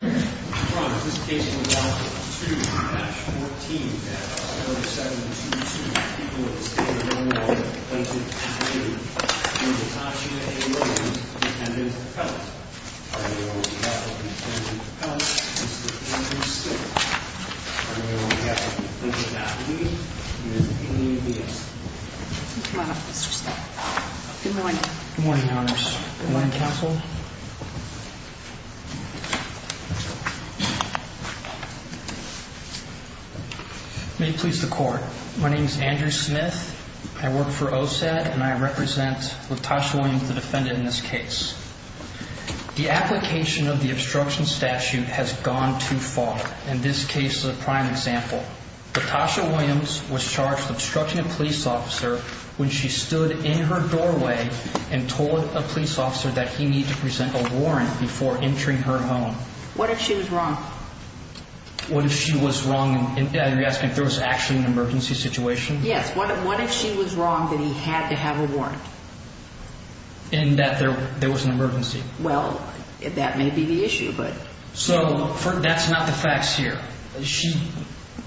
Good morning, Mr. Scott. Good morning. Good morning, Honors. Good morning, Counsel. May it please the Court. My name is Andrew Smith. I work for OSAD, and I represent LaTosha Williams, the defendant in this case. The application of the obstruction statute has gone too far, and this case is a prime example. LaTosha Williams was charged with obstructing a police officer when she stood in her doorway and told a police officer that he needed to present a warrant before entering her home. What if she was wrong? What if she was wrong? Are you asking if there was actually an emergency situation? Yes. What if she was wrong that he had to have a warrant? And that there was an emergency? Well, that may be the issue, So that's not the facts here.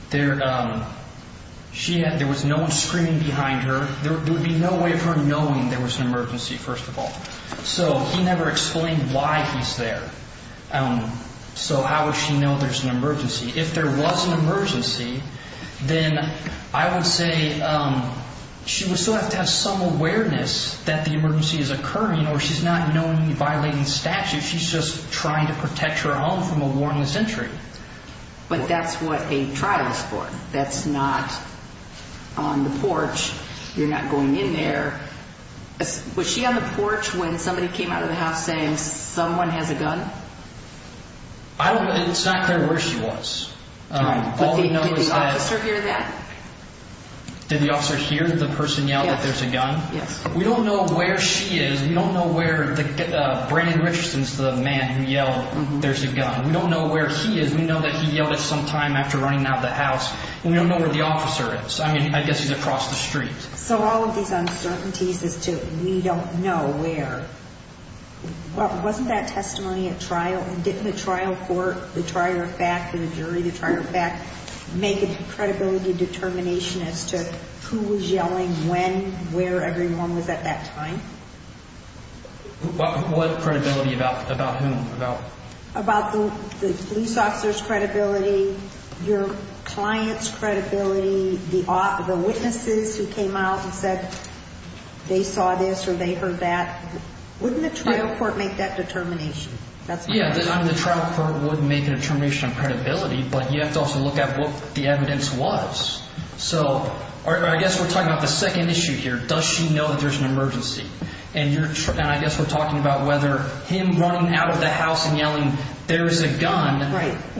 There was no one screaming behind her. There would be no way of her knowing there was an emergency, first of all. So he never explained why he's there. So how would she know there's an emergency? If there was an emergency, then I would say she would still have to have some awareness that the emergency is occurring, or she's violating statute. She's just trying to protect her home from a warrantless entry. But that's what a trial is for. That's not on the porch. You're not going in there. Was she on the porch when somebody came out of the house saying someone has a gun? I don't know. It's not clear where she was. Did the officer hear that? Did the officer hear the person yell that there's a gun? Yes. We don't know where she is. We don't know where Brandon Richardson is, the man who yelled there's a gun. We don't know where he is. We know that he yelled it sometime after running out of the house. We don't know where the officer is. I mean, I guess he's across the street. So all of these uncertainties as to we don't know where. Wasn't that testimony at trial? And didn't the trial court, the trier of fact, the jury, the trier of fact, make a credibility determination as to who was yelling when, where everyone was at that time? What credibility? About whom? About the police officer's credibility, your client's credibility, the witnesses who came out and said they saw this or they heard that? Wouldn't the trial court make that determination? Yeah, the trial court would make a determination on credibility, but you have to also look at what the evidence was. So I guess we're talking about the second issue here. Does she know that there's an emergency? And I guess we're talking about whether him running out of the house and yelling there is a gun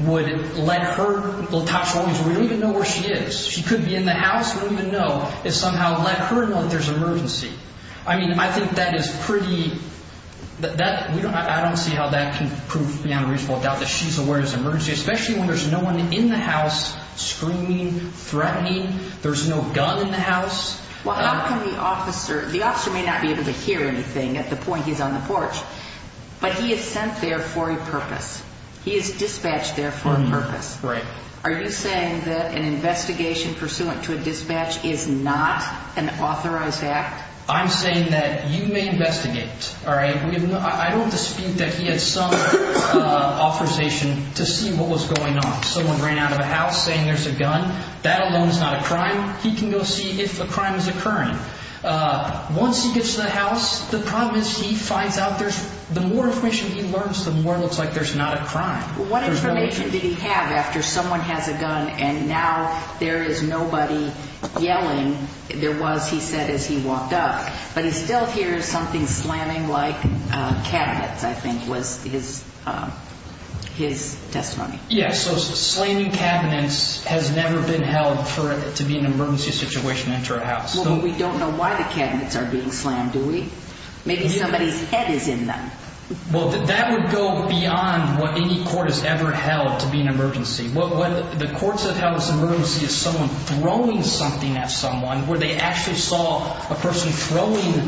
would let her, we don't even know where she is. She could be in the house. We don't even know. It somehow let her know that there's an emergency. I mean, I think that is pretty, I don't see how that can prove beyond a reasonable doubt that she's aware there's an emergency, especially when there's no one in the house screaming, threatening, there's no gun in the house. Well, how can the officer, the officer may not be able to hear anything at the point he's on the porch, but he is sent there for a purpose. He is dispatched there for a purpose. Right. Are you saying that an investigation pursuant to a dispatch is not an authorized act? I'm saying that you may investigate. All right. I don't dispute that he had some authorization to see what was going on. Someone ran out of the house saying there's a gun. That alone is not a crime. He can go see if a crime is occurring. Once he gets to the house, the problem is he finds out there's the more information he learns, the more it looks like there's not a crime. What information did he have after someone has a gun and now there is nobody yelling? There was, he said, as he walked up. But he still hears something slamming like cabinets, I think, was his testimony. Yes. So slamming cabinets has never been held to be an emergency situation into a house. Well, but we don't know why the cabinets are being slammed, do we? Maybe somebody's head Well, that would go beyond what any court has ever held to be an emergency. What the courts have held as an emergency is someone throwing something at someone where they actually saw a person throwing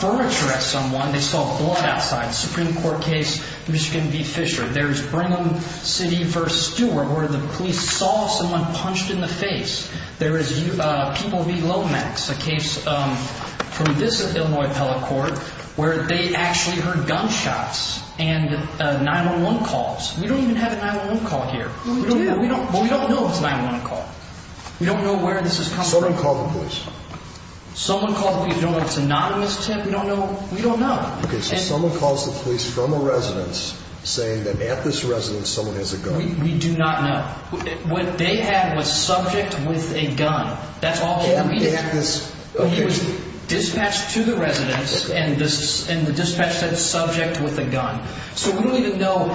furniture at someone. They saw blood outside. Supreme Court case, Michigan v. Fisher. There's Brigham City v. Stewart where the police saw someone punched in the face. There is people v. Lomax, a case from this Illinois appellate court where they actually heard gunshots and 9-1-1 calls. We don't even have a 9-1-1 call here. Well, we do. But we don't know it's a 9-1-1 call. We don't know where this is coming from. Someone called the police. Someone called the police. We don't know if it's anonymous, Tim. We don't know. We don't know. Okay, so someone calls the police from a residence saying that at this residence someone has a gun. We do not know. What they had was subject with a gun. That's all we know. He was dispatched to the residence and the dispatch said subject with a gun. So we don't even know.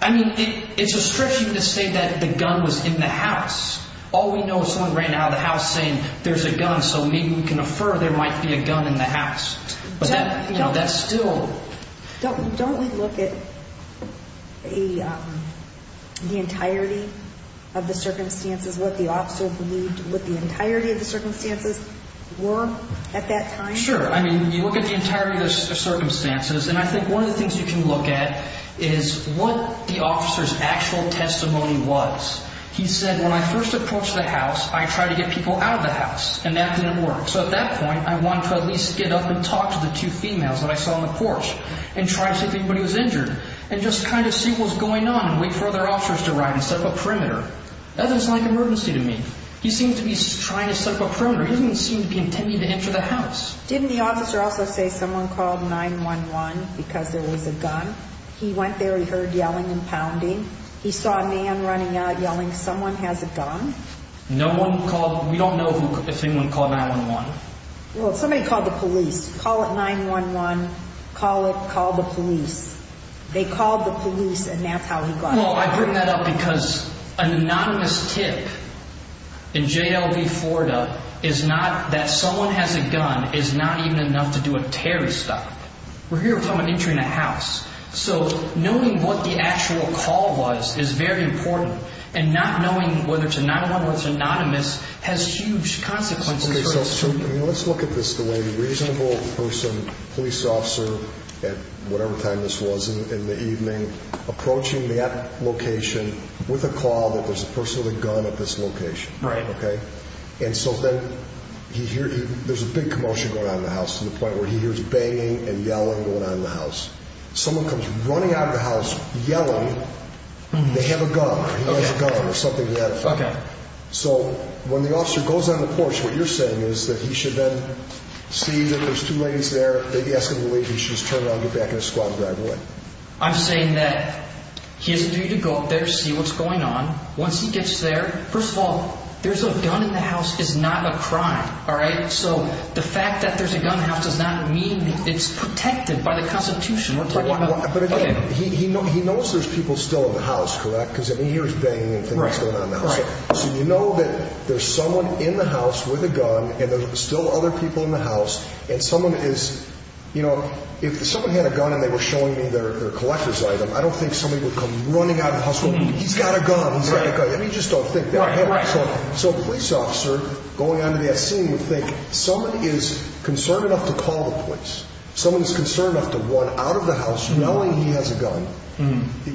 I mean, it's a stretch even to say that the gun was in the house. All we know is someone ran out of the house saying there's a gun so maybe we can infer there might be a gun in the house. But that's still... Don't we look at the entirety of the circumstances, what the officer believed, what the entirety of the circumstances were at that time? Sure. I mean, you look at the entirety of the circumstances and I think one of the things you can look at is what the officer's actual testimony was. He said when I first approached the house, I tried to get people out of the house and that didn't work. So at that point, I wanted to at least get up and talk to the two females that I saw on the porch and try to see if anybody was injured and just kind of see what was going on. I didn't want the officer to run and set up a perimeter. That doesn't sound like an emergency to me. He seems to be trying to set up a perimeter. He doesn't seem to be intending to enter the house. Didn't the officer also say someone called 911 because there was a gun? He went there, he heard yelling and pounding. He saw a man running out yelling someone has a gun. No one called, we don't know if anyone called 911. Well, somebody called the police. Call it 911, call it, call the police. They called the police and that's how he got out. Well, I bring that up because an anonymous tip in JLD Florida is not that someone has a gun is not even enough to do a Terry stop. We're here talking about entering a house. So knowing what the actual call was is very important and not knowing whether it's a 911 or it's anonymous has huge consequences. Okay, so let's look at this the way the reasonable police officer at whatever time this was in the evening approaching that location with a call that there's a person with a gun at this location. Right. Okay. And so then he hears, there's a big commotion going on in the house to the point where he hears banging and yelling going on in the house. Someone comes running out of the house yelling they have a gun or something. Yeah. Okay. So when the officer goes on the porch, what you're saying is that he should then see that there's two ladies there. Maybe ask him to leave. He should just turn around, get back in his squad and drive away. I'm saying that he has a duty to go up there, see what's going on. Once he gets there, first of all, there's a gun in the house is not a crime. All right. So the fact that there's a gun in the house does not mean it's protected by the constitution. But again, he knows there's people still in the house, correct? Because I mean, he hears banging and things going on in the house. Right. So you know that there's someone in the house with a gun and there's still other people in the house and someone is, you know, if someone had a gun and they were showing me their collector's item, I don't think somebody would come running out of the house going, he's got a gun, he's got a gun. And you just don't think that. Right. So a police officer going onto that scene would think somebody is concerned enough to call the police. Someone is concerned enough to run out of the house knowing he has a gun.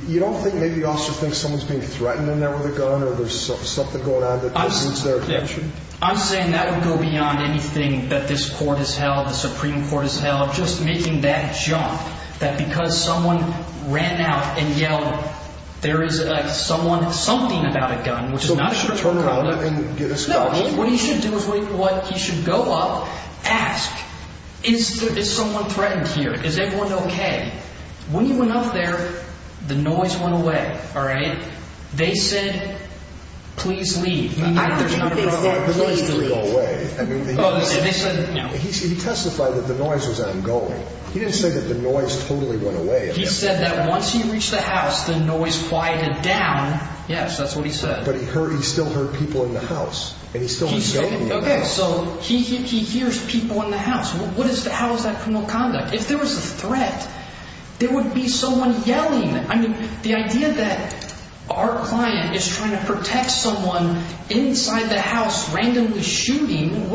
You don't think maybe a police officer thinks someone's being threatened in there with a gun or there's something going on that needs their attention? I'm saying that would go beyond anything that this court has held, the Supreme Court has held. Just making that jump that because someone ran out and yelled, there is someone, something about a gun, which is not a sure thing. So he should turn around and get escorted? No, what he should do is what he should go up, ask, is there, is someone threatened here? Is everyone okay? When you went up there, the noise went away. All right. They said, please leave. He testified that the noise was ongoing. He didn't say that the noise totally went away. He said that once he reached the house, the noise quieted down. Yes, that's what he said. But he heard, he still heard people in the If there was a threat, there would be someone yelling. I mean, the idea that our client is trying to protect someone inside the house randomly shooting,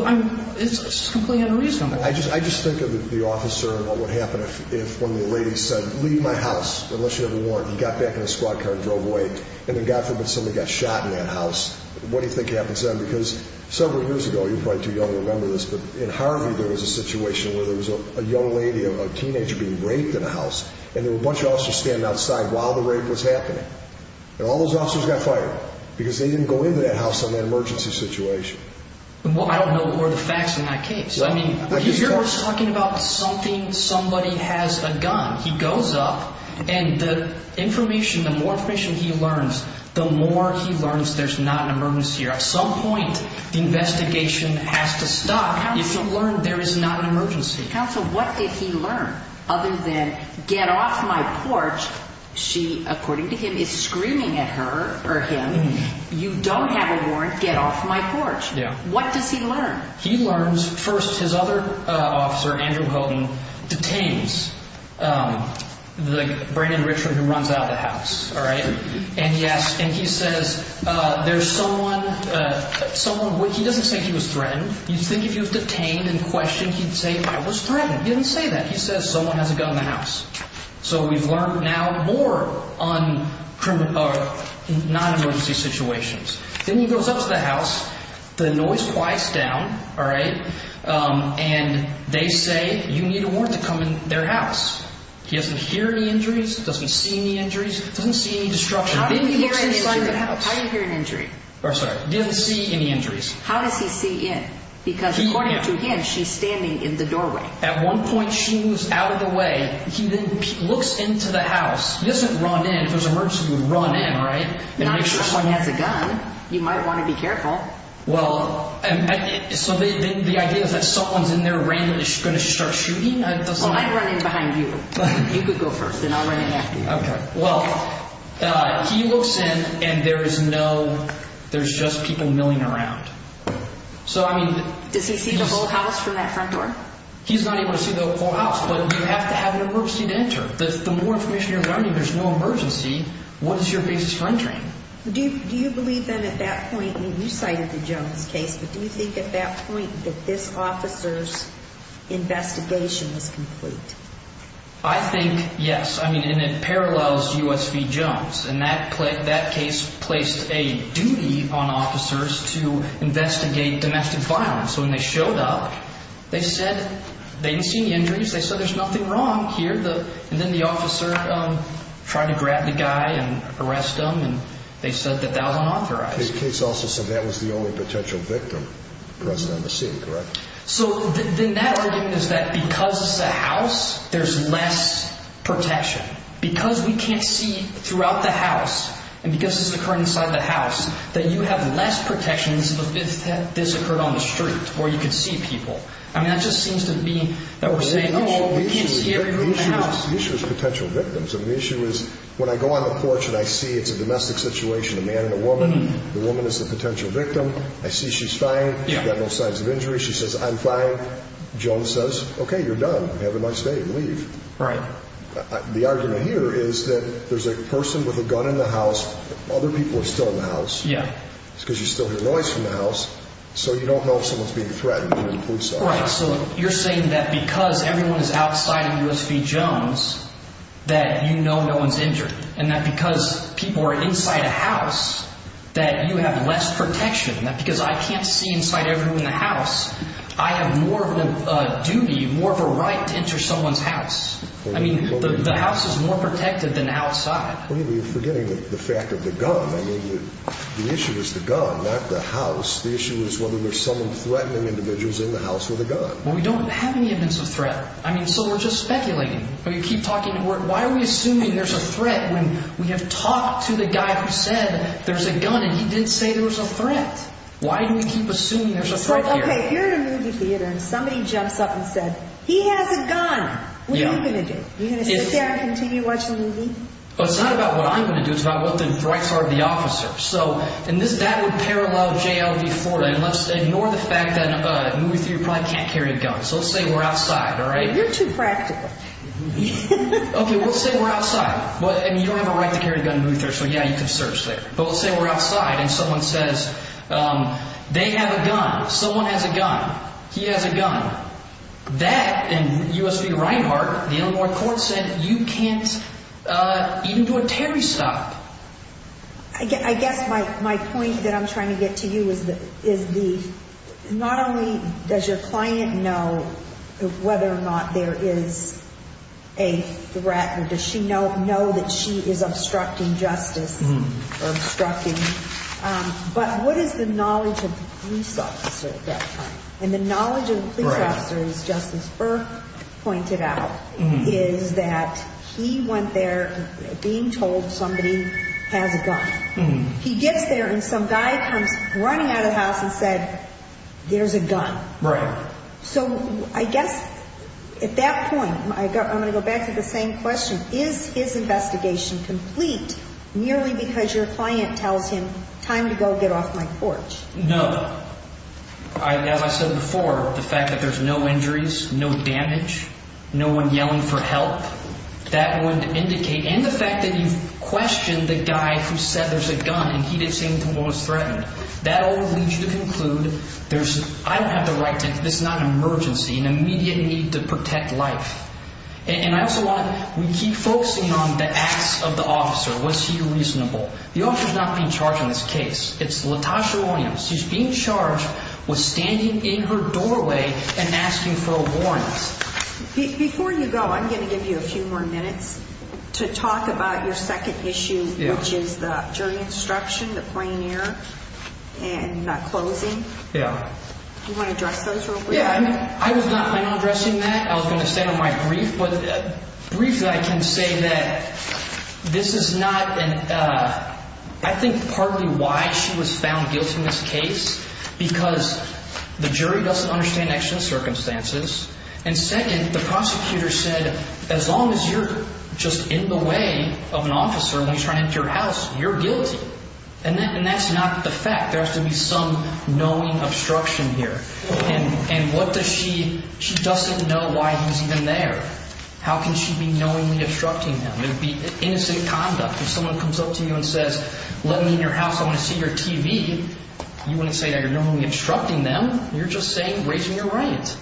it's completely unreasonable. I just think of the officer, what would happen if one of the ladies said, leave my house, unless you have a warrant. He got back in a squad car and drove away. And then God forbid somebody got shot in that house. What do you think happens then? Because several years ago, you're probably too young to remember this, but in Harvey, there was a situation where there was a young lady, a teenager being raped in a house. And there were a bunch of officers standing outside while the rape was happening. And all those officers got fired because they didn't go into that house on that emergency situation. Well, I don't know what were the facts in that case. I mean, you're talking about something, somebody has a gun, he goes up and the information, the more information he learns, the more he learns there's not an emergency. At some point, the investigation has to stop if you learn there is not an emergency. Counsel, what did he learn other than get off my porch? She, according to him, is screaming at her or him, you don't have a warrant, get off my porch. What does he learn? He learns first, his other officer, Andrew Houghton, detains the Brandon Richland who runs out of the house. And he says, there's someone, he doesn't say he was threatened. You'd think if he was detained and questioned, he'd say, I was threatened. He didn't say that. He says, someone has a gun in the house. So we've learned now more on non-emergency situations. Then he goes up to the house, the noise quiets down. And they say, you need a warrant to come in their house. He doesn't hear any injuries, doesn't see any injuries, doesn't see any destruction. How do you hear an injury? He doesn't see any injuries. How does he see in? Because according to him, she's standing in the doorway. At one point, she moves out of the way. He then looks into the house. He doesn't run in if there's an emergency, he would run in, right? Not if someone has a gun. You might start shooting. I'd run in behind you. You could go first and I'll run in after you. Okay. Well, he looks in and there is no, there's just people milling around. So I mean. Does he see the whole house from that front door? He's not able to see the whole house, but you have to have an emergency to enter. The more information you're running, there's no emergency. What is your basis for entering? Do you believe then at that point, you cited the Jones case, but do you think at that point that this officer's investigation was complete? I think, yes. I mean, and it parallels U.S. v. Jones. And that case placed a duty on officers to investigate domestic violence. So when they showed up, they said they didn't see any injuries. They said there's nothing wrong here. And then the officer tried to grab the guy and arrest him and they said that that was unauthorized. The case also said that was the only potential victim present on the scene, correct? So then that argument is that because it's a house, there's less protection. Because we can't see throughout the house and because this is occurring inside the house, that you have less protections if this occurred on the street where you could see people. I mean, that just seems to be that we're saying, oh, we can't see anyone in the house. The issue is potential victims. I mean, the issue is when I go on the porch and I see it's a domestic situation, a man and a woman, the woman is the potential victim. I see she's fine. She's got no signs of injury. She says, I'm fine. Jones says, okay, you're done. Have a nice day and leave. Right. The argument here is that there's a person with a gun in the house. Other people are still in the house. Yeah. It's because you still hear noise from the house. So you don't know if someone's being threatened, even the police are. Right. So you're saying that because everyone is outside of U.S. v. Jones, that you know no one's injured and that because people are inside a house, that you have less protection, that because I can't see inside everyone in the house, I have more of a duty, more of a right to enter someone's house. I mean, the house is more protected than outside. Well, you're forgetting the fact of the gun. I mean, the issue is the gun, not the house. The issue is whether there's someone threatening individuals in the house with a gun. Well, we don't have any evidence of threat. I mean, so we're just speculating. We keep talking. Why are we assuming there's a threat when we have talked to the guy who said there's a gun and he didn't say there was a threat? Why do we keep assuming there's a threat here? Okay, you're in a movie theater and somebody jumps up and said, he has a gun. What are you going to do? Are you going to sit there and continue watching the movie? Well, it's not about what I'm going to do. It's about what the rights are of the officer. So, and that would parallel J.L. v. Florida. And let's ignore the fact that a movie theater probably can't carry a gun. So let's say we're outside, all right? You're too practical. Okay, let's say we're outside. And you don't have a right to carry a gun in a movie theater, so yeah, you can search there. But let's say we're outside and someone says, they have a gun. Someone has a gun. He has a gun. That and U.S. v. Reinhart, the Illinois court said, you can't even do a Terry stop. I guess my point that I'm trying to get to you is not only does your client know whether or not there is a threat or does she know that she is obstructing justice or obstructing, but what is the knowledge of the police officer at that time? And the knowledge of the police officer, as Justice Burke pointed out, is that he went there being told somebody has a gun. He gets there and some guy comes running out of the house and said, there's a gun. Right. So I guess at that point, I'm going to go back to the same question. Is his investigation complete merely because your client tells him, time to go get off my porch? No. As I said before, the fact that there's no injuries, no damage, no one yelling for help, that would lead you to conclude, I don't have the right to, this is not an emergency, an immediate need to protect life. And I also want, we keep focusing on the acts of the officer. Was he reasonable? The officer's not being charged in this case. It's Latasha Williams. She's being charged with standing in her doorway and asking for a warrant. Before you go, I'm going to give you a few more minutes to talk about your second issue, which is the jury instruction, the plain air, and not closing. Yeah. Do you want to address those real quick? Yeah. I was not addressing that. I was going to stay on my brief, but briefly I can say that this is not an, I think partly why she was found guilty in this case, because the jury doesn't understand actual circumstances. And second, the prosecutor said, as long as you're just in the way of an officer when he's trying to enter your house, you're guilty. And that's not the fact. There has to be some knowing obstruction here. And what does she, she doesn't know why he's even there. How can she be knowingly obstructing him? It would be innocent conduct. If someone comes up to you and says, let me in your house, I want to see your TV. You wouldn't say that you're knowingly obstructing them. You're just saying, raising your right.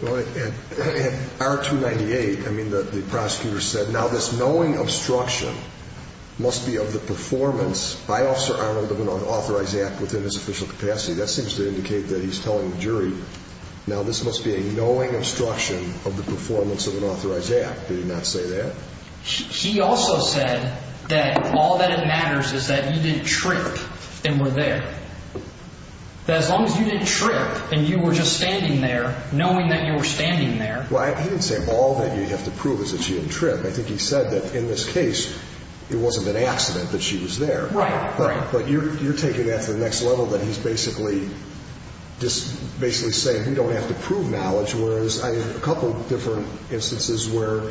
Well, at R298, I mean, the prosecutor said, now this knowing obstruction must be of the performance by officer Arnold of an unauthorized act within his official capacity. That seems to indicate that he's telling the jury, now this must be a knowing obstruction of the performance of an authorized act. Did he not say that? He also said that all that matters is that you didn't trip and were there. That as long as you didn't trip and you were just standing there, knowing that you were standing there. Well, he didn't say all that you have to prove is that she didn't trip. I think he said that in this case, it wasn't an accident that she was there. Right. But you're taking that to the next level that he's basically just basically saying, we don't have to prove knowledge. Whereas I have a couple of different instances where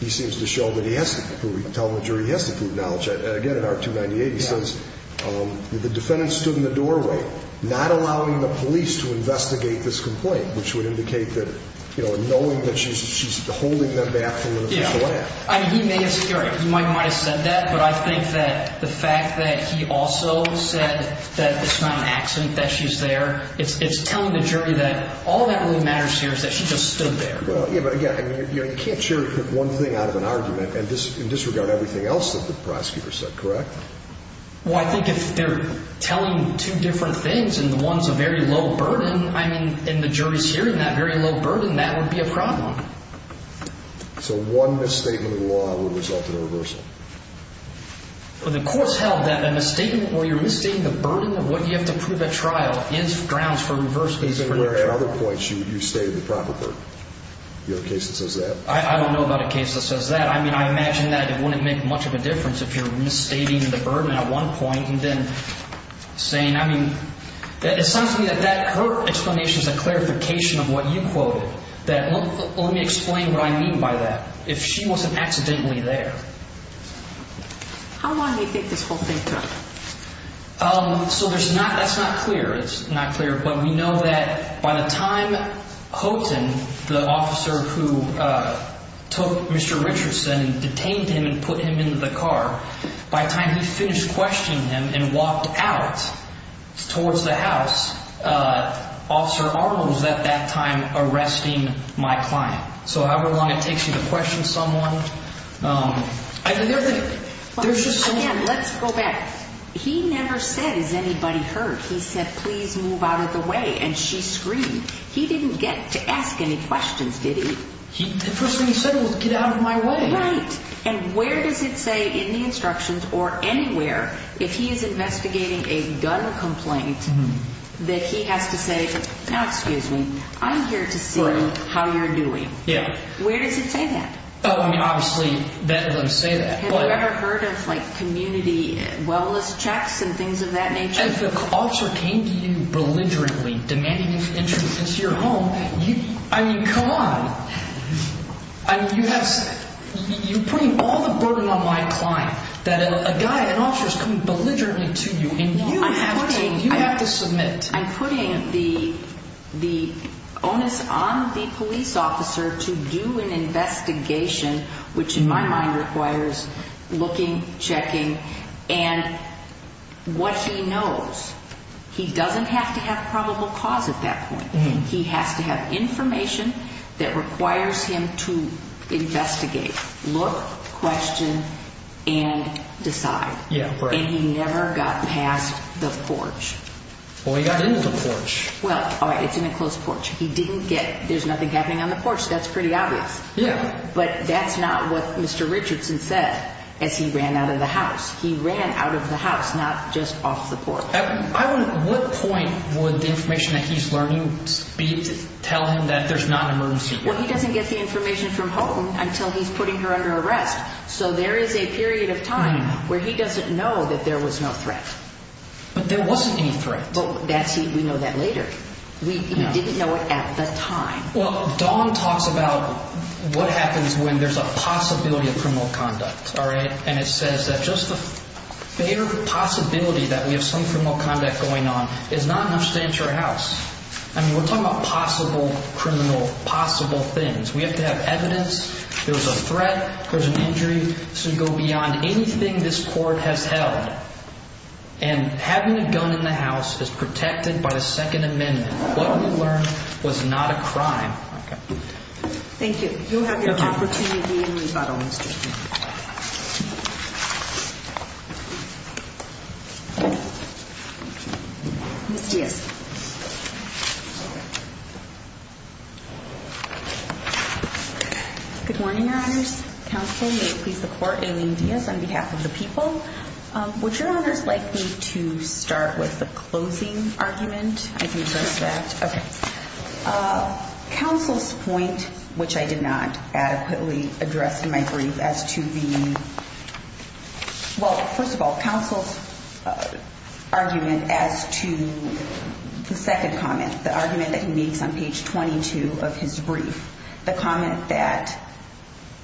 he seems to show that he has to prove, he can tell the jury he has to prove knowledge. Again, at R298 he says, the defendant stood in the doorway, not allowing the police to investigate this complaint, which would indicate that, you know, knowing that she's, she's holding them back from an official act. He may have said that, but I think that the fact that he also said that it's not an accident that she's there, it's telling the jury that all that really matters here is that she just stood there. But again, you can't cherry pick one thing out of an argument and disregard everything else that the prosecutor said, correct? Well, I think if they're telling two different things and the one's a very low burden, I mean, and the jury's hearing that very low burden, that would be a problem. So one misstatement of the law would result in a reversal? Well, the court's held that a misstatement where you're misstating the burden of what you have to prove at trial is grounds for reversal. Even where at other points you, you stated the proper burden. You have a case that says that? I don't know about a case that says that. I mean, I imagine that it wouldn't make much of a difference if you're misstating the burden at one point and then saying, I mean, it sounds to me that that, her explanation is a clarification of what you quoted, that let me explain what I mean by that. If she wasn't accidentally there. How long do you think this whole thing took? So there's not, that's not clear. It's not clear, but we know that by the time Houghton, the officer who took Mr. Richardson and detained him and put him in the car, by the time he finished questioning him and walked out towards the house, Officer Arnold was at that time arresting my client. So however long it takes you to question someone, I mean, there's just so many. Let's go back. He never said, has anybody heard? He said, please move out of my way. And she screamed. He didn't get to ask any questions, did he? The first thing he said was get out of my way. Right. And where does it say in the instructions or anywhere if he is investigating a gun complaint that he has to say, now, excuse me, I'm here to see how you're doing. Yeah. Where does it say that? Oh, I mean, obviously that doesn't say that. Have you ever heard of like community wellness checks and things of that nature? If the officer came to you belligerently demanding his entrance into your home, I mean, come on. You're putting all the burden on my client that a guy, an officer is coming belligerently to you and you have to submit. I'm putting the onus on the police officer to do an investigation, which in my mind requires looking, checking and what he knows. He doesn't have to have probable cause at that point. He has to have information that requires him to investigate, look, question and decide. Yeah. And he never got past the porch. Well, he got into the porch. Well, all right. It's in a closed porch. He didn't get, there's nothing happening on the porch. That's pretty obvious. Yeah. But that's not what Mr. Richardson said as he ran out of the house. He ran out of the house, not just off the porch. What point would the information that he's learning be telling him that there's not an emergency? Well, he doesn't get the information from home until he's putting her under arrest. So there is a period of time where he doesn't know that there was no threat. But there wasn't any threat. But that's, we know that later. We didn't know it at the time. Well, Dawn talks about what happens when there's a possibility of criminal conduct. All right. And it says that just the fair possibility that we have some criminal conduct going on is not enough to enter a house. I mean, we're talking about possible criminal, possible things. We have to have evidence. There was a threat, there was an injury. So you go beyond anything this is protected by the Second Amendment. What we learned was not a crime. Okay. Thank you. You'll have your opportunity in rebuttal, Mr. King. Ms. Diaz. Good morning, Your Honors. Counsel, may you please support Aileen Diaz on behalf of the people. Would Your Honors like me to start with the closing argument? I can address that. Okay. Counsel's point, which I did not adequately address in my brief as to the, well, first of all, counsel's argument as to the second comment, the argument that he makes on page 22 of his brief, the comment that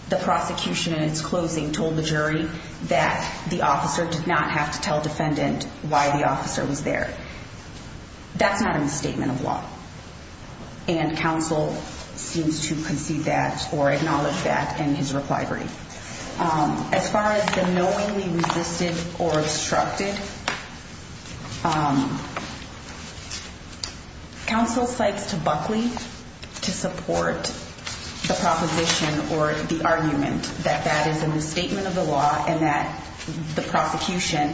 the prosecution in its closing told the jury that the officer did not have to tell the defendant why the officer was there. That's not a misstatement of law. And counsel seems to concede that or acknowledge that in his reply brief. As far as the knowingly resisted or obstructed, counsel cites to Buckley to support the proposition or the argument that that is a misstatement of the law and that the prosecution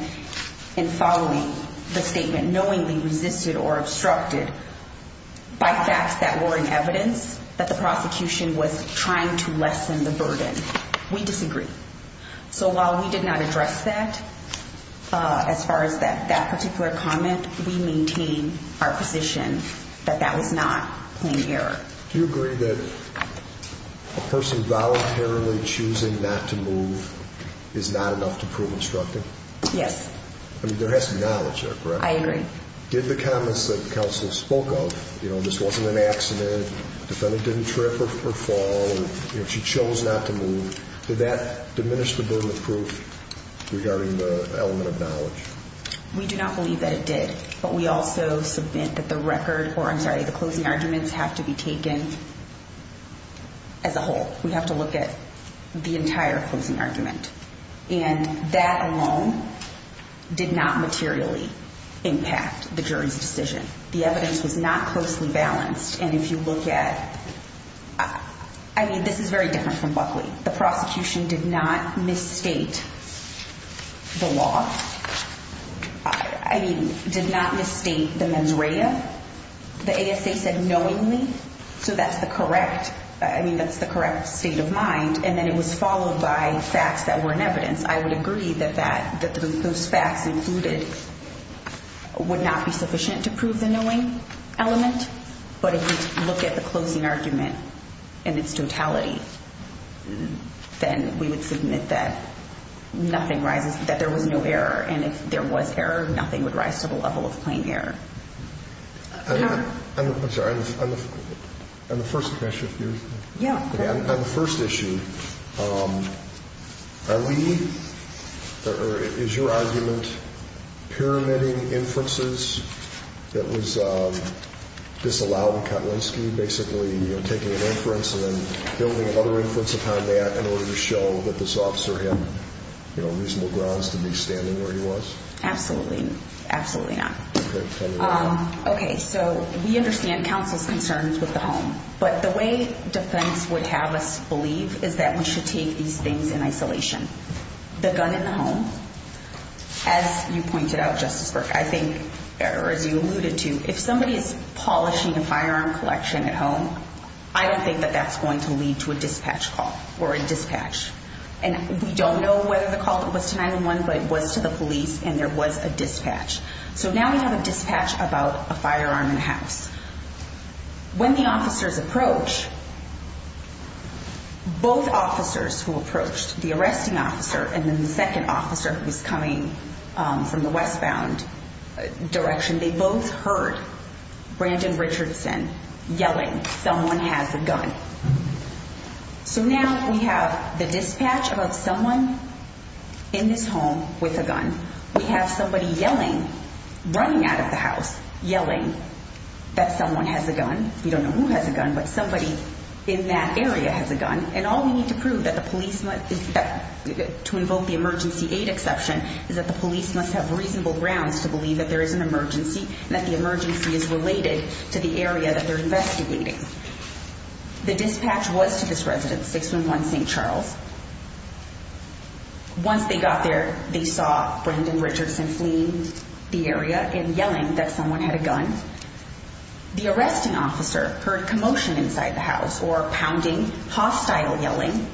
in following the statement knowingly resisted or obstructed by facts that were in evidence that the prosecution was trying to lessen the burden. We disagree. So while we did not address that, as far as that particular comment, we maintain our position that that was not plain error. Do you agree that a person voluntarily choosing not to move is not enough to prove obstructing? Yes. I mean, there has to be knowledge there, correct? I agree. Did the comments that counsel spoke of, you know, this wasn't an accident, defendant didn't trip or fall, you know, she chose not to move, did that diminish the burden of proof regarding the element of knowledge? We do not believe that it did, but we also submit that the record, or I'm sorry, the closing arguments have to be taken as a whole. We have to look at the entire closing argument. And that alone did not materially impact the jury's decision. The evidence was not closely balanced. And if you look at, I mean, this is very different from Buckley. The prosecution did not misstate the law. I mean, that's the correct state of mind. And then it was followed by facts that were in evidence. I would agree that those facts included would not be sufficient to prove the knowing element. But if you look at the closing argument in its totality, then we would submit that nothing rises, that there was no error. And if there was error, nothing would rise to the level of plain error. I'm sorry, on the first issue, are we, or is your argument pyramiding inferences that was disallowed in Kotlinski, basically taking an inference and then building another inference upon that in order to show that this officer had reasonable grounds to be standing where he was? Absolutely. Absolutely not. Okay. So we understand counsel's concerns with the home, but the way defense would have us believe is that we should take these things in isolation. The gun in the home, as you pointed out, Justice Burke, I think, or as you alluded to, if somebody is polishing a firearm collection at home, I don't think that that's going to lead to a dispatch call or a dispatch. And we don't know whether the call was to 911, but it was to the police and there was a dispatch. So now we have a dispatch about a firearm in the house. When the officers approach, both officers who approached, the arresting officer and then the second officer who's coming from the westbound direction, they both heard Brandon Richardson yelling, someone has a gun. So now we have the dispatch call, and we have a dispatch about someone in this home with a gun. We have somebody yelling, running out of the house, yelling that someone has a gun. We don't know who has a gun, but somebody in that area has a gun. And all we need to prove that the police, to invoke the emergency aid exception, is that the police must have reasonable grounds to believe that there is an emergency and that the emergency is related to the area that they're investigating. The dispatch was to this residence, 611 St. Charles. Once they got there, they saw Brandon Richardson fleeing the area and yelling that someone had a gun. The arresting officer heard commotion inside the house or pounding, hostile yelling.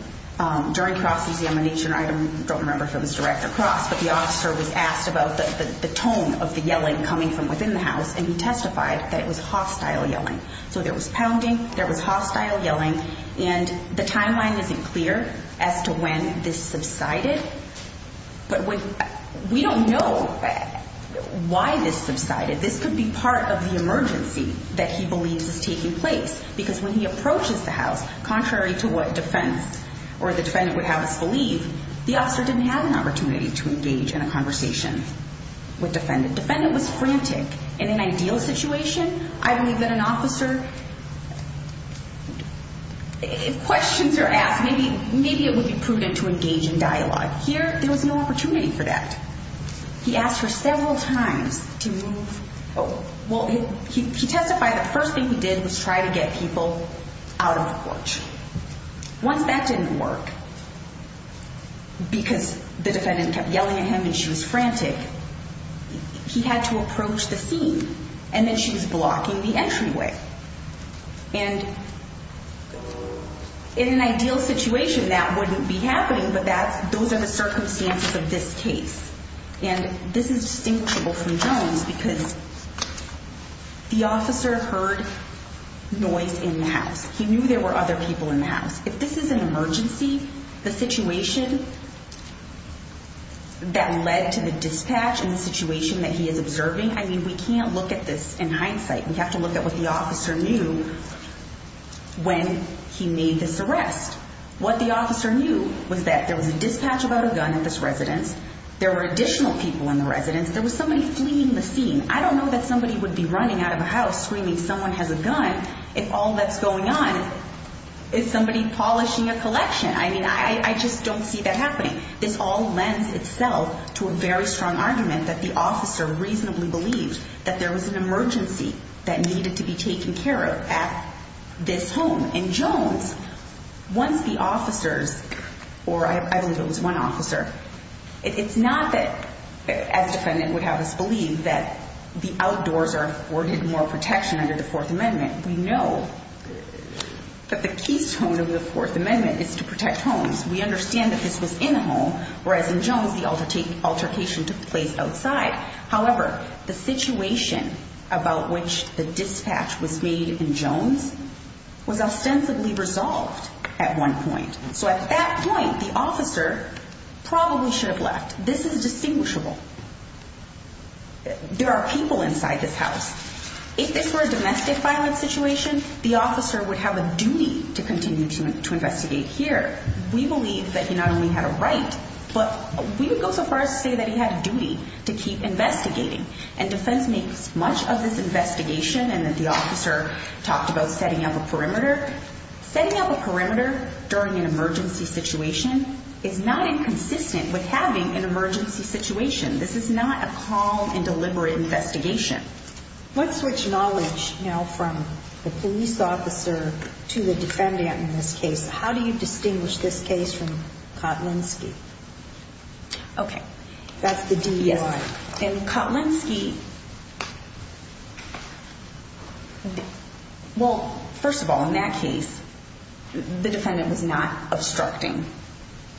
During cross examination, I don't remember if it was direct or cross, but the officer was asked about the tone of the yelling coming from within the house, and he testified that it was hostile yelling. So there was pounding, there was hostile yelling, and the timeline isn't clear as to when this subsided. But we don't know why this subsided. This could be part of the emergency that he believes is taking place, because when he approaches the house, contrary to what defense or the defendant would have us believe, the officer didn't have an opportunity to engage in a conversation with defendant. Defendant was frantic. In an ideal situation, I believe that an officer would be able to engage in dialogue. If questions are asked, maybe it would be prudent to engage in dialogue. Here, there was no opportunity for that. He asked her several times to move. Well, he testified that the first thing he did was try to get people out of the porch. Once that didn't work, because the defendant kept yelling at him and she was frantic, he had to move. And in an ideal situation, that wouldn't be happening, but those are the circumstances of this case. And this is distinguishable from Jones, because the officer heard noise in the house. He knew there were other people in the house. If this is an emergency, the situation that led to the dispatch and the situation that he is observing, I mean, we can't look at this in hindsight. We have to look at what the officer knew when he made this arrest. What the officer knew was that there was a dispatch about a gun in this residence. There were additional people in the residence. There was somebody fleeing the scene. I don't know that somebody would be running out of a house screaming someone has a gun if all that's going on is somebody polishing a collection. I mean, I just don't see that happening. This all lends itself to a very strong argument that the officer reasonably believed that there was an emergency that needed to be taken care of at this home. And Jones, once the officers, or I believe it was one officer, it's not that, as the defendant would have us believe, that the outdoors are afforded more protection under the Fourth Amendment. We know that the keystone of the Fourth Amendment is to protect homes. We understand that this was in a home, whereas in Jones the altercation took place outside. However, the situation about which the dispatch was made in Jones was ostensibly resolved at one point. So at that point, the officer probably should have left. This is distinguishable. There are people inside this house. If this were a domestic violence situation, the officer would have a duty to continue to investigate here. We believe that he not only had a right, but we would go so far as to say that he had a duty to keep investigating. And defense makes much of this investigation and that the officer talked about setting up a perimeter. Setting up a perimeter during an emergency situation is not inconsistent with having an emergency situation. This is not a calm and deliberate investigation. How do you distinguish this case from Kotlinski? Okay, that's the DUI. Kotlinski, well, first of all, in that case, the defendant was not obstructing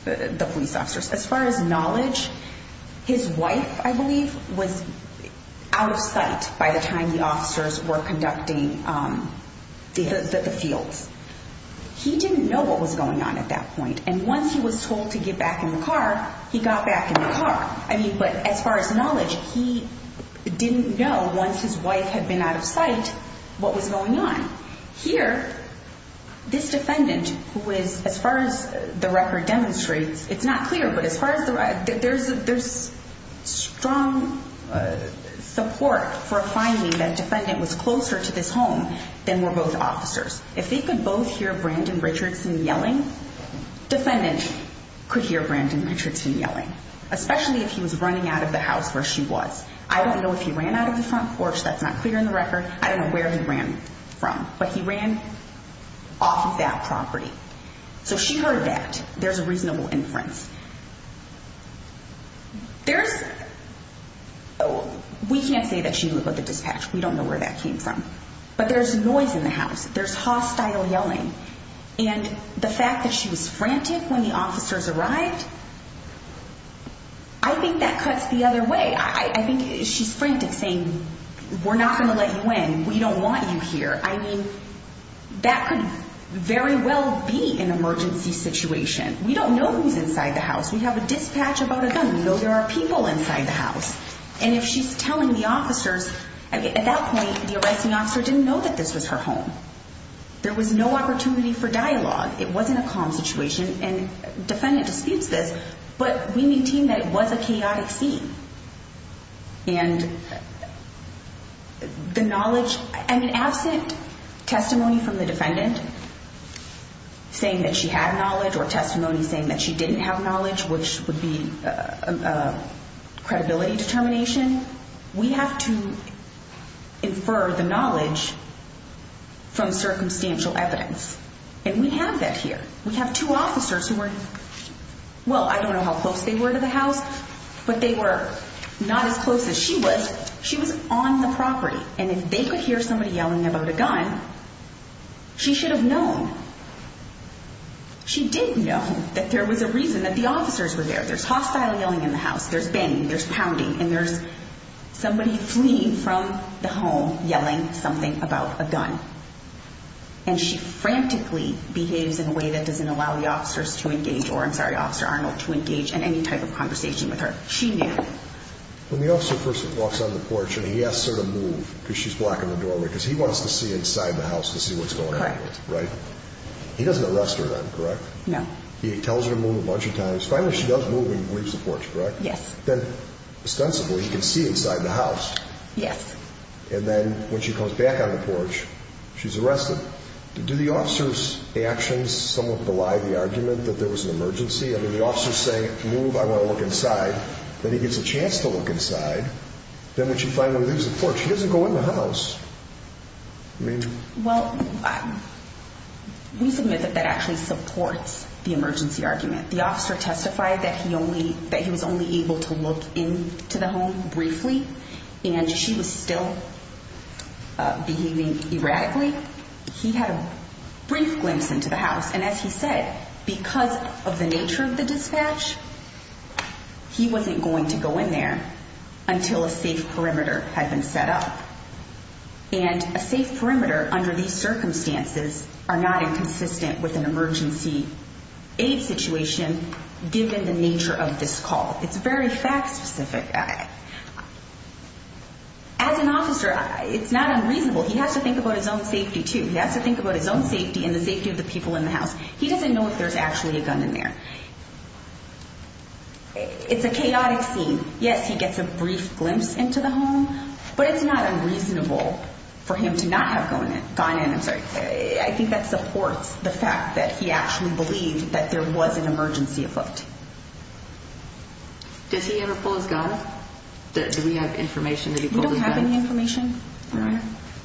the police officers. As far as knowledge, his wife, I believe, was out of sight by the time the officers were conducting the fields. He didn't know what was going on at that point. And once he was told to get back in the car, he got back in the car. I mean, but as far as knowledge, he didn't know once his wife had been out of sight what was going on. Here, this defendant, who is, as far as the record demonstrates, it's not clear, but as far as the record, there's strong support for finding that defendant was closer to this house. And if you look at the front porch, if you look at the front porch, if you hear Brandon Richardson yelling, defendant could hear Brandon Richardson yelling, especially if he was running out of the house where she was. I don't know if he ran out of the front porch. That's not clear in the record. I don't know where he ran from, but he ran off of that property. So she heard that. There's a reasonable inference. There's, we can't say that she was with the dispatch. We don't know where that came from. But there's noise in the house. There's hostile yelling. And the fact that she was frantic when the officers arrived, I think that cuts the other way. I think she's frantic saying, we're not going to let you in. We don't want you here. I mean, that could very well be an emergency situation. We don't know who's inside the house. We have a dispatch about a gun. We know there are people inside the house. And if she's telling the officers, I mean, at that point, the arresting officer didn't know that this was her home. There was no opportunity for dialogue. It wasn't a calm situation. And defendant disputes this, but we maintain that it was a chaotic scene. And the knowledge, I mean, absent testimony from the defendant saying that she had knowledge or testimony saying that she was there, or saying that she didn't have knowledge, which would be credibility determination, we have to infer the knowledge from circumstantial evidence. And we have that here. We have two officers who were, well, I don't know how close they were to the house, but they were not as close as she was. She was on the property. And if they could hear somebody yelling about a gun, she did know that there was a reason that the officers were there. There's hostile yelling in the house. There's banging. There's pounding. And there's somebody fleeing from the home yelling something about a gun. And she frantically behaves in a way that doesn't allow the officers to engage, or I'm sorry, Officer Arnold, to engage in any type of conversation with her. She knew. When the officer first walks on the porch and he asks her to move because she's blocking the doorway, because he wants to see her, he tells her to move a bunch of times. Finally, she does move and leaves the porch, correct? Yes. Then, ostensibly, he can see inside the house. Yes. And then when she comes back on the porch, she's arrested. Do the officers' actions somewhat belie the argument that there was an emergency? I mean, the officer's saying, move, I want to look inside. Then he gets a chance to look inside. Then when she finally leaves the porch, he doesn't go in the house. I mean... Well, we submit that that actually supports the emergency argument. The officer testified that he was only able to look into the home briefly, and she was still behaving erratically. He had a brief glimpse into the house. And as he said, because of the nature of the dispatch, he wasn't going to go in there until a safe perimeter had been set up. And a safe perimeter under these circumstances are not inconsistent with an aid situation, given the nature of this call. It's very fact-specific. As an officer, it's not unreasonable. He has to think about his own safety, too. He has to think about his own safety and the safety of the people in the house. He doesn't know if there's actually a gun in there. It's a chaotic scene. Yes, he gets a brief glimpse into the home, but it's not unreasonable for him to not have gone in. I'm sorry. I think that supports the fact that he actually believes that there was an emergency afoot. Does he ever pull his gun? Do we have information that he pulled his gun? We don't have any information.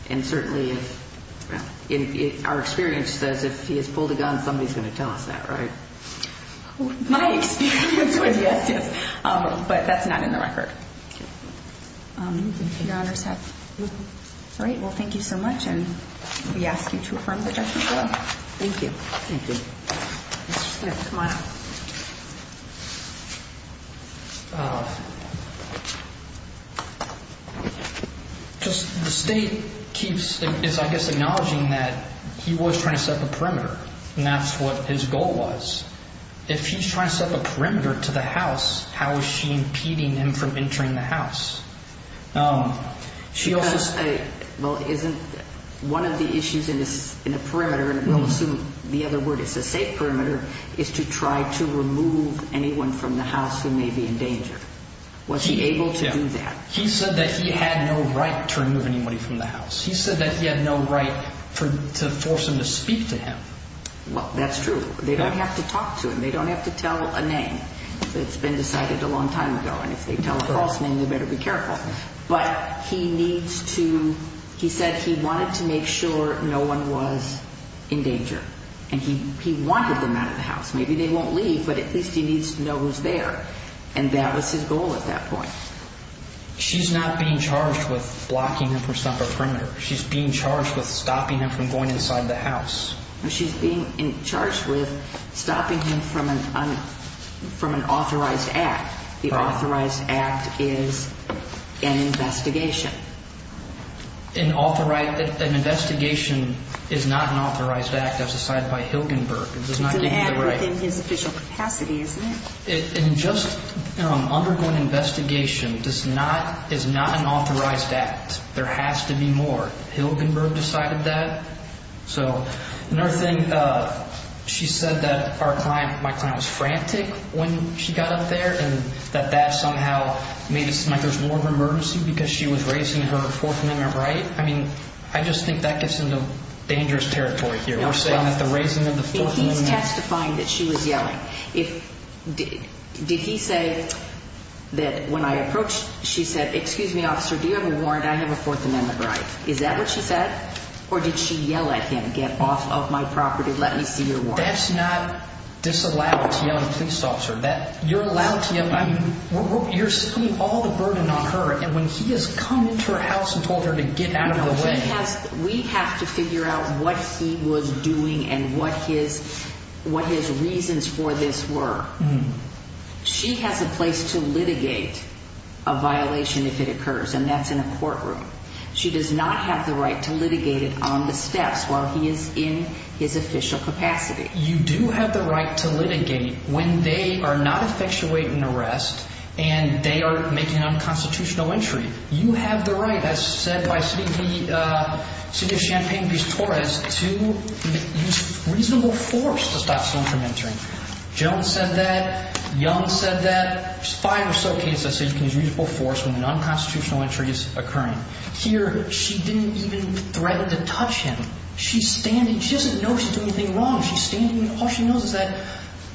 And certainly, our experience says if he has pulled a gun, somebody's going to tell us that, right? My experience would, yes, yes. But that's not in the record. Your Honor's have... All right. Well, thank you so much. And we ask you to affirm the judgment, Your Honor. Thank you. Thank you. Mr. Smith, come on up. Just the State keeps, I guess, acknowledging that he was trying to set the perimeter, and that's what his goal was. If he's trying to set the perimeter to the house, how is she impeding him from entering the house? She also... Well, isn't that a question of whether or not... One of the issues in a perimeter, and we'll assume the other word is a safe perimeter, is to try to remove anyone from the house who may be in danger. Was he able to do that? He said that he had no right to remove anybody from the house. He said that he had no right to force them to speak to him. Well, that's true. They don't have to talk to him. They don't have to tell a name. It's been decided a long time ago, and if they tell a false name, they better be careful. But he needs to... He said he wanted to make sure no one was in danger, and he wanted them out of the house. Maybe they won't leave, but at least he needs to know who's there, and that was his goal at that point. She's not being charged with blocking him from setting the perimeter. She's being charged with stopping him from going inside the house. She's being charged with stopping him from an authorized act. The authorized act is an investigation, and that's what she's saying. An investigation is not an authorized act, as decided by Hilgenberg. It does not give you the right. It's an act within his official capacity, isn't it? An undergoing investigation is not an authorized act. There has to be more. Hilgenberg decided that. Another thing, she said that my client was frantic when she got up there, and that that somehow made it seem like there was more of an emergency because she was raising her Fourth Amendment right. I mean, I just think that gets into dangerous territory here. We're saying that the raising of the Fourth Amendment... He's testifying that she was yelling. Did he say that when I approached, she said, excuse me, officer, do you have a warrant? I have a Fourth Amendment right. Is that what she said, or did she yell at him, get off of my property, let me see your warrant? That's not disallowed to yell at a police officer. You're saying all the burden on her, and when he has come into her house and told her to get out of the way... We have to figure out what he was doing and what his reasons for this were. She has a place to litigate a violation if it occurs, and that's in a courtroom. She does not have the right to litigate it on the steps while he is in his official capacity. You do have the right to litigate when they are not effectuating an arrest and they are making an unconstitutional entry. You have the right, as said by the city of Champaign-Piz Torres, to use reasonable force to stop someone from entering. Jones said that. Young said that. There's five or so cases that say you can use reasonable force when an unconstitutional entry is occurring. Here, she didn't even threaten to touch him. She didn't even touch him. She's standing. She doesn't know she's doing anything wrong. All she knows is that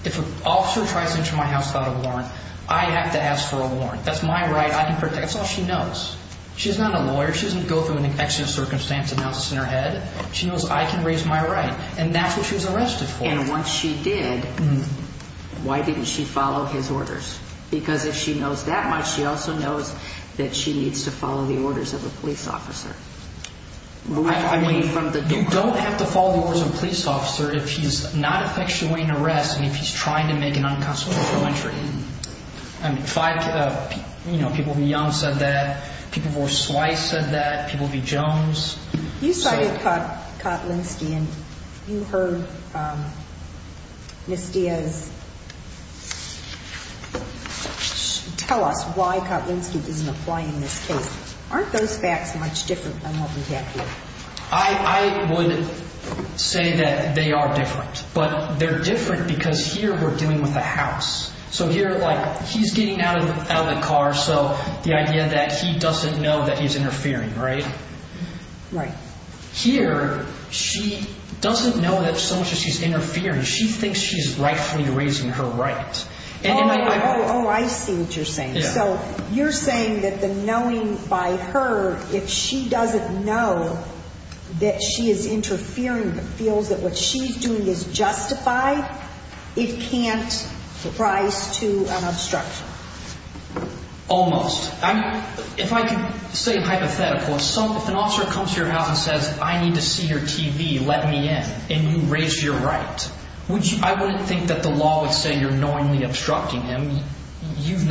if an officer tries to enter my house without a warrant, I have to ask for a warrant. That's my right. That's all she knows. She's not a lawyer. She doesn't go through an accident circumstance and have this in her head. She knows I can raise my right, and that's what she was arrested for. And once she did, why didn't she follow his orders? Because if she knows that much, she also knows that she needs to follow the orders of a police officer. You don't have to follow the orders of a police officer if he's not effectuating an arrest and if he's trying to make an unconstitutional entry. Five people who were young said that. People who were swice said that. People who were Jones. You cited Kotlinski, and you heard Ms. Diaz tell us why Kotlinski doesn't apply any more. Aren't those facts much different than what we have here? I would say that they are different, but they're different because here we're dealing with a house. So here, like, he's getting out of the car, so the idea that he doesn't know that he's interfering, right? Here, she doesn't know that so much as she's interfering, she thinks she's rightfully raising her right. Oh, I see what you're saying. So you're saying that the knowing by her, if she doesn't know that she is interfering, feels that what she's doing is justified, it can't rise to an obstruction. Almost. If I could say hypothetically, if an officer comes to your house and says, I need to see your TV, let me in, and you raise your right, I wouldn't think that the law would say you're knowingly obstructing him. You've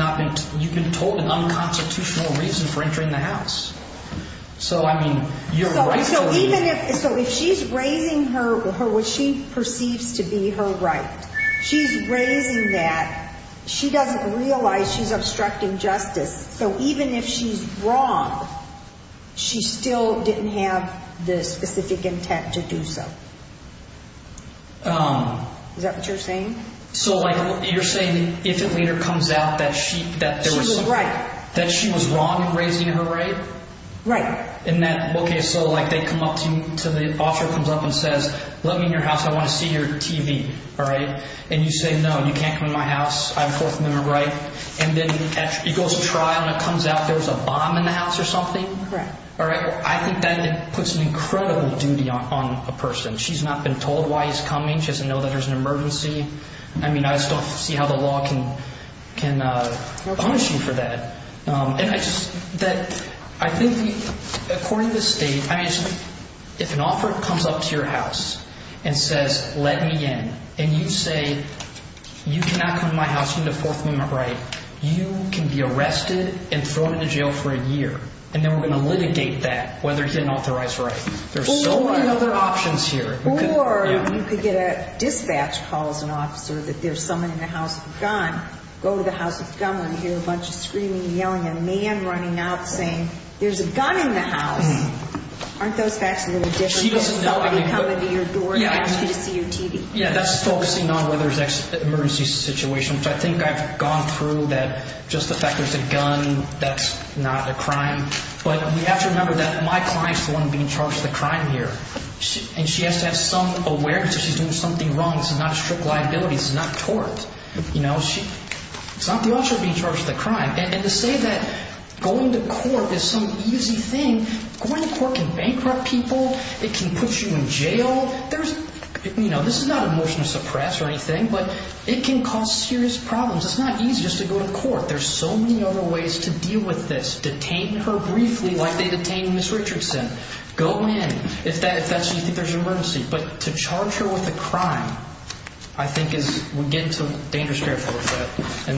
been told an unconstitutional reason for entering the house. So if she's raising what she perceives to be her right, she's raising that. She doesn't realize she's obstructing justice. So even if she's wrong, she still didn't have the specific intent to do so. Is that what you're saying? So you're saying if it later comes out that she was wrong in raising her right? Right. Okay, so the officer comes up and says, let me in your house, I want to see your TV, and you say, no, you can't come in my house, I have a 4th Amendment right, and then it goes to trial and it comes out there was a bomb in the house or something? Correct. I think that puts an incredible duty on a person. She's not been told why he's coming, she doesn't know that there's an emergency. I mean, I just don't see how the law can punish you for that. According to the state, if an officer comes up to your house and says, let me in, and you say, you cannot come to my house, you need a 4th Amendment right, you can be arrested and thrown into jail for a year, and then we're going to litigate that, whether he's got an authorized right. There's so many other options here. Or you could get a dispatch call as an officer that there's someone in the house with a gun, go to the house with a gun, and hear a bunch of screaming and yelling, and a man running out saying, there's a gun in the house. Aren't those facts a little different than somebody coming to your door and asking you to see your TV? Yeah, that's focusing on whether there's an emergency situation, which I think I've gone through, that just the fact there's a gun, that's not a crime. But we have to remember that my client's the one being charged with a crime here, and she has to have some awareness that she's doing something wrong. This is not a strict liability, this is not tort. It's not the officer being charged with a crime. And to say that going to court is some easy thing, going to court can bankrupt people, it can put you in jail, this is not a motion to suppress or anything, but it can cause serious problems. It's not easy just to go to court. There's so many other ways to deal with this, detain her briefly like they detained Ms. Richardson, go in if you think there's an emergency. But to charge her with a crime, I think is, we get into dangerous territory for that.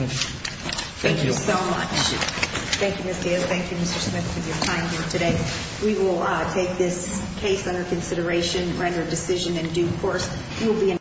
Thank you.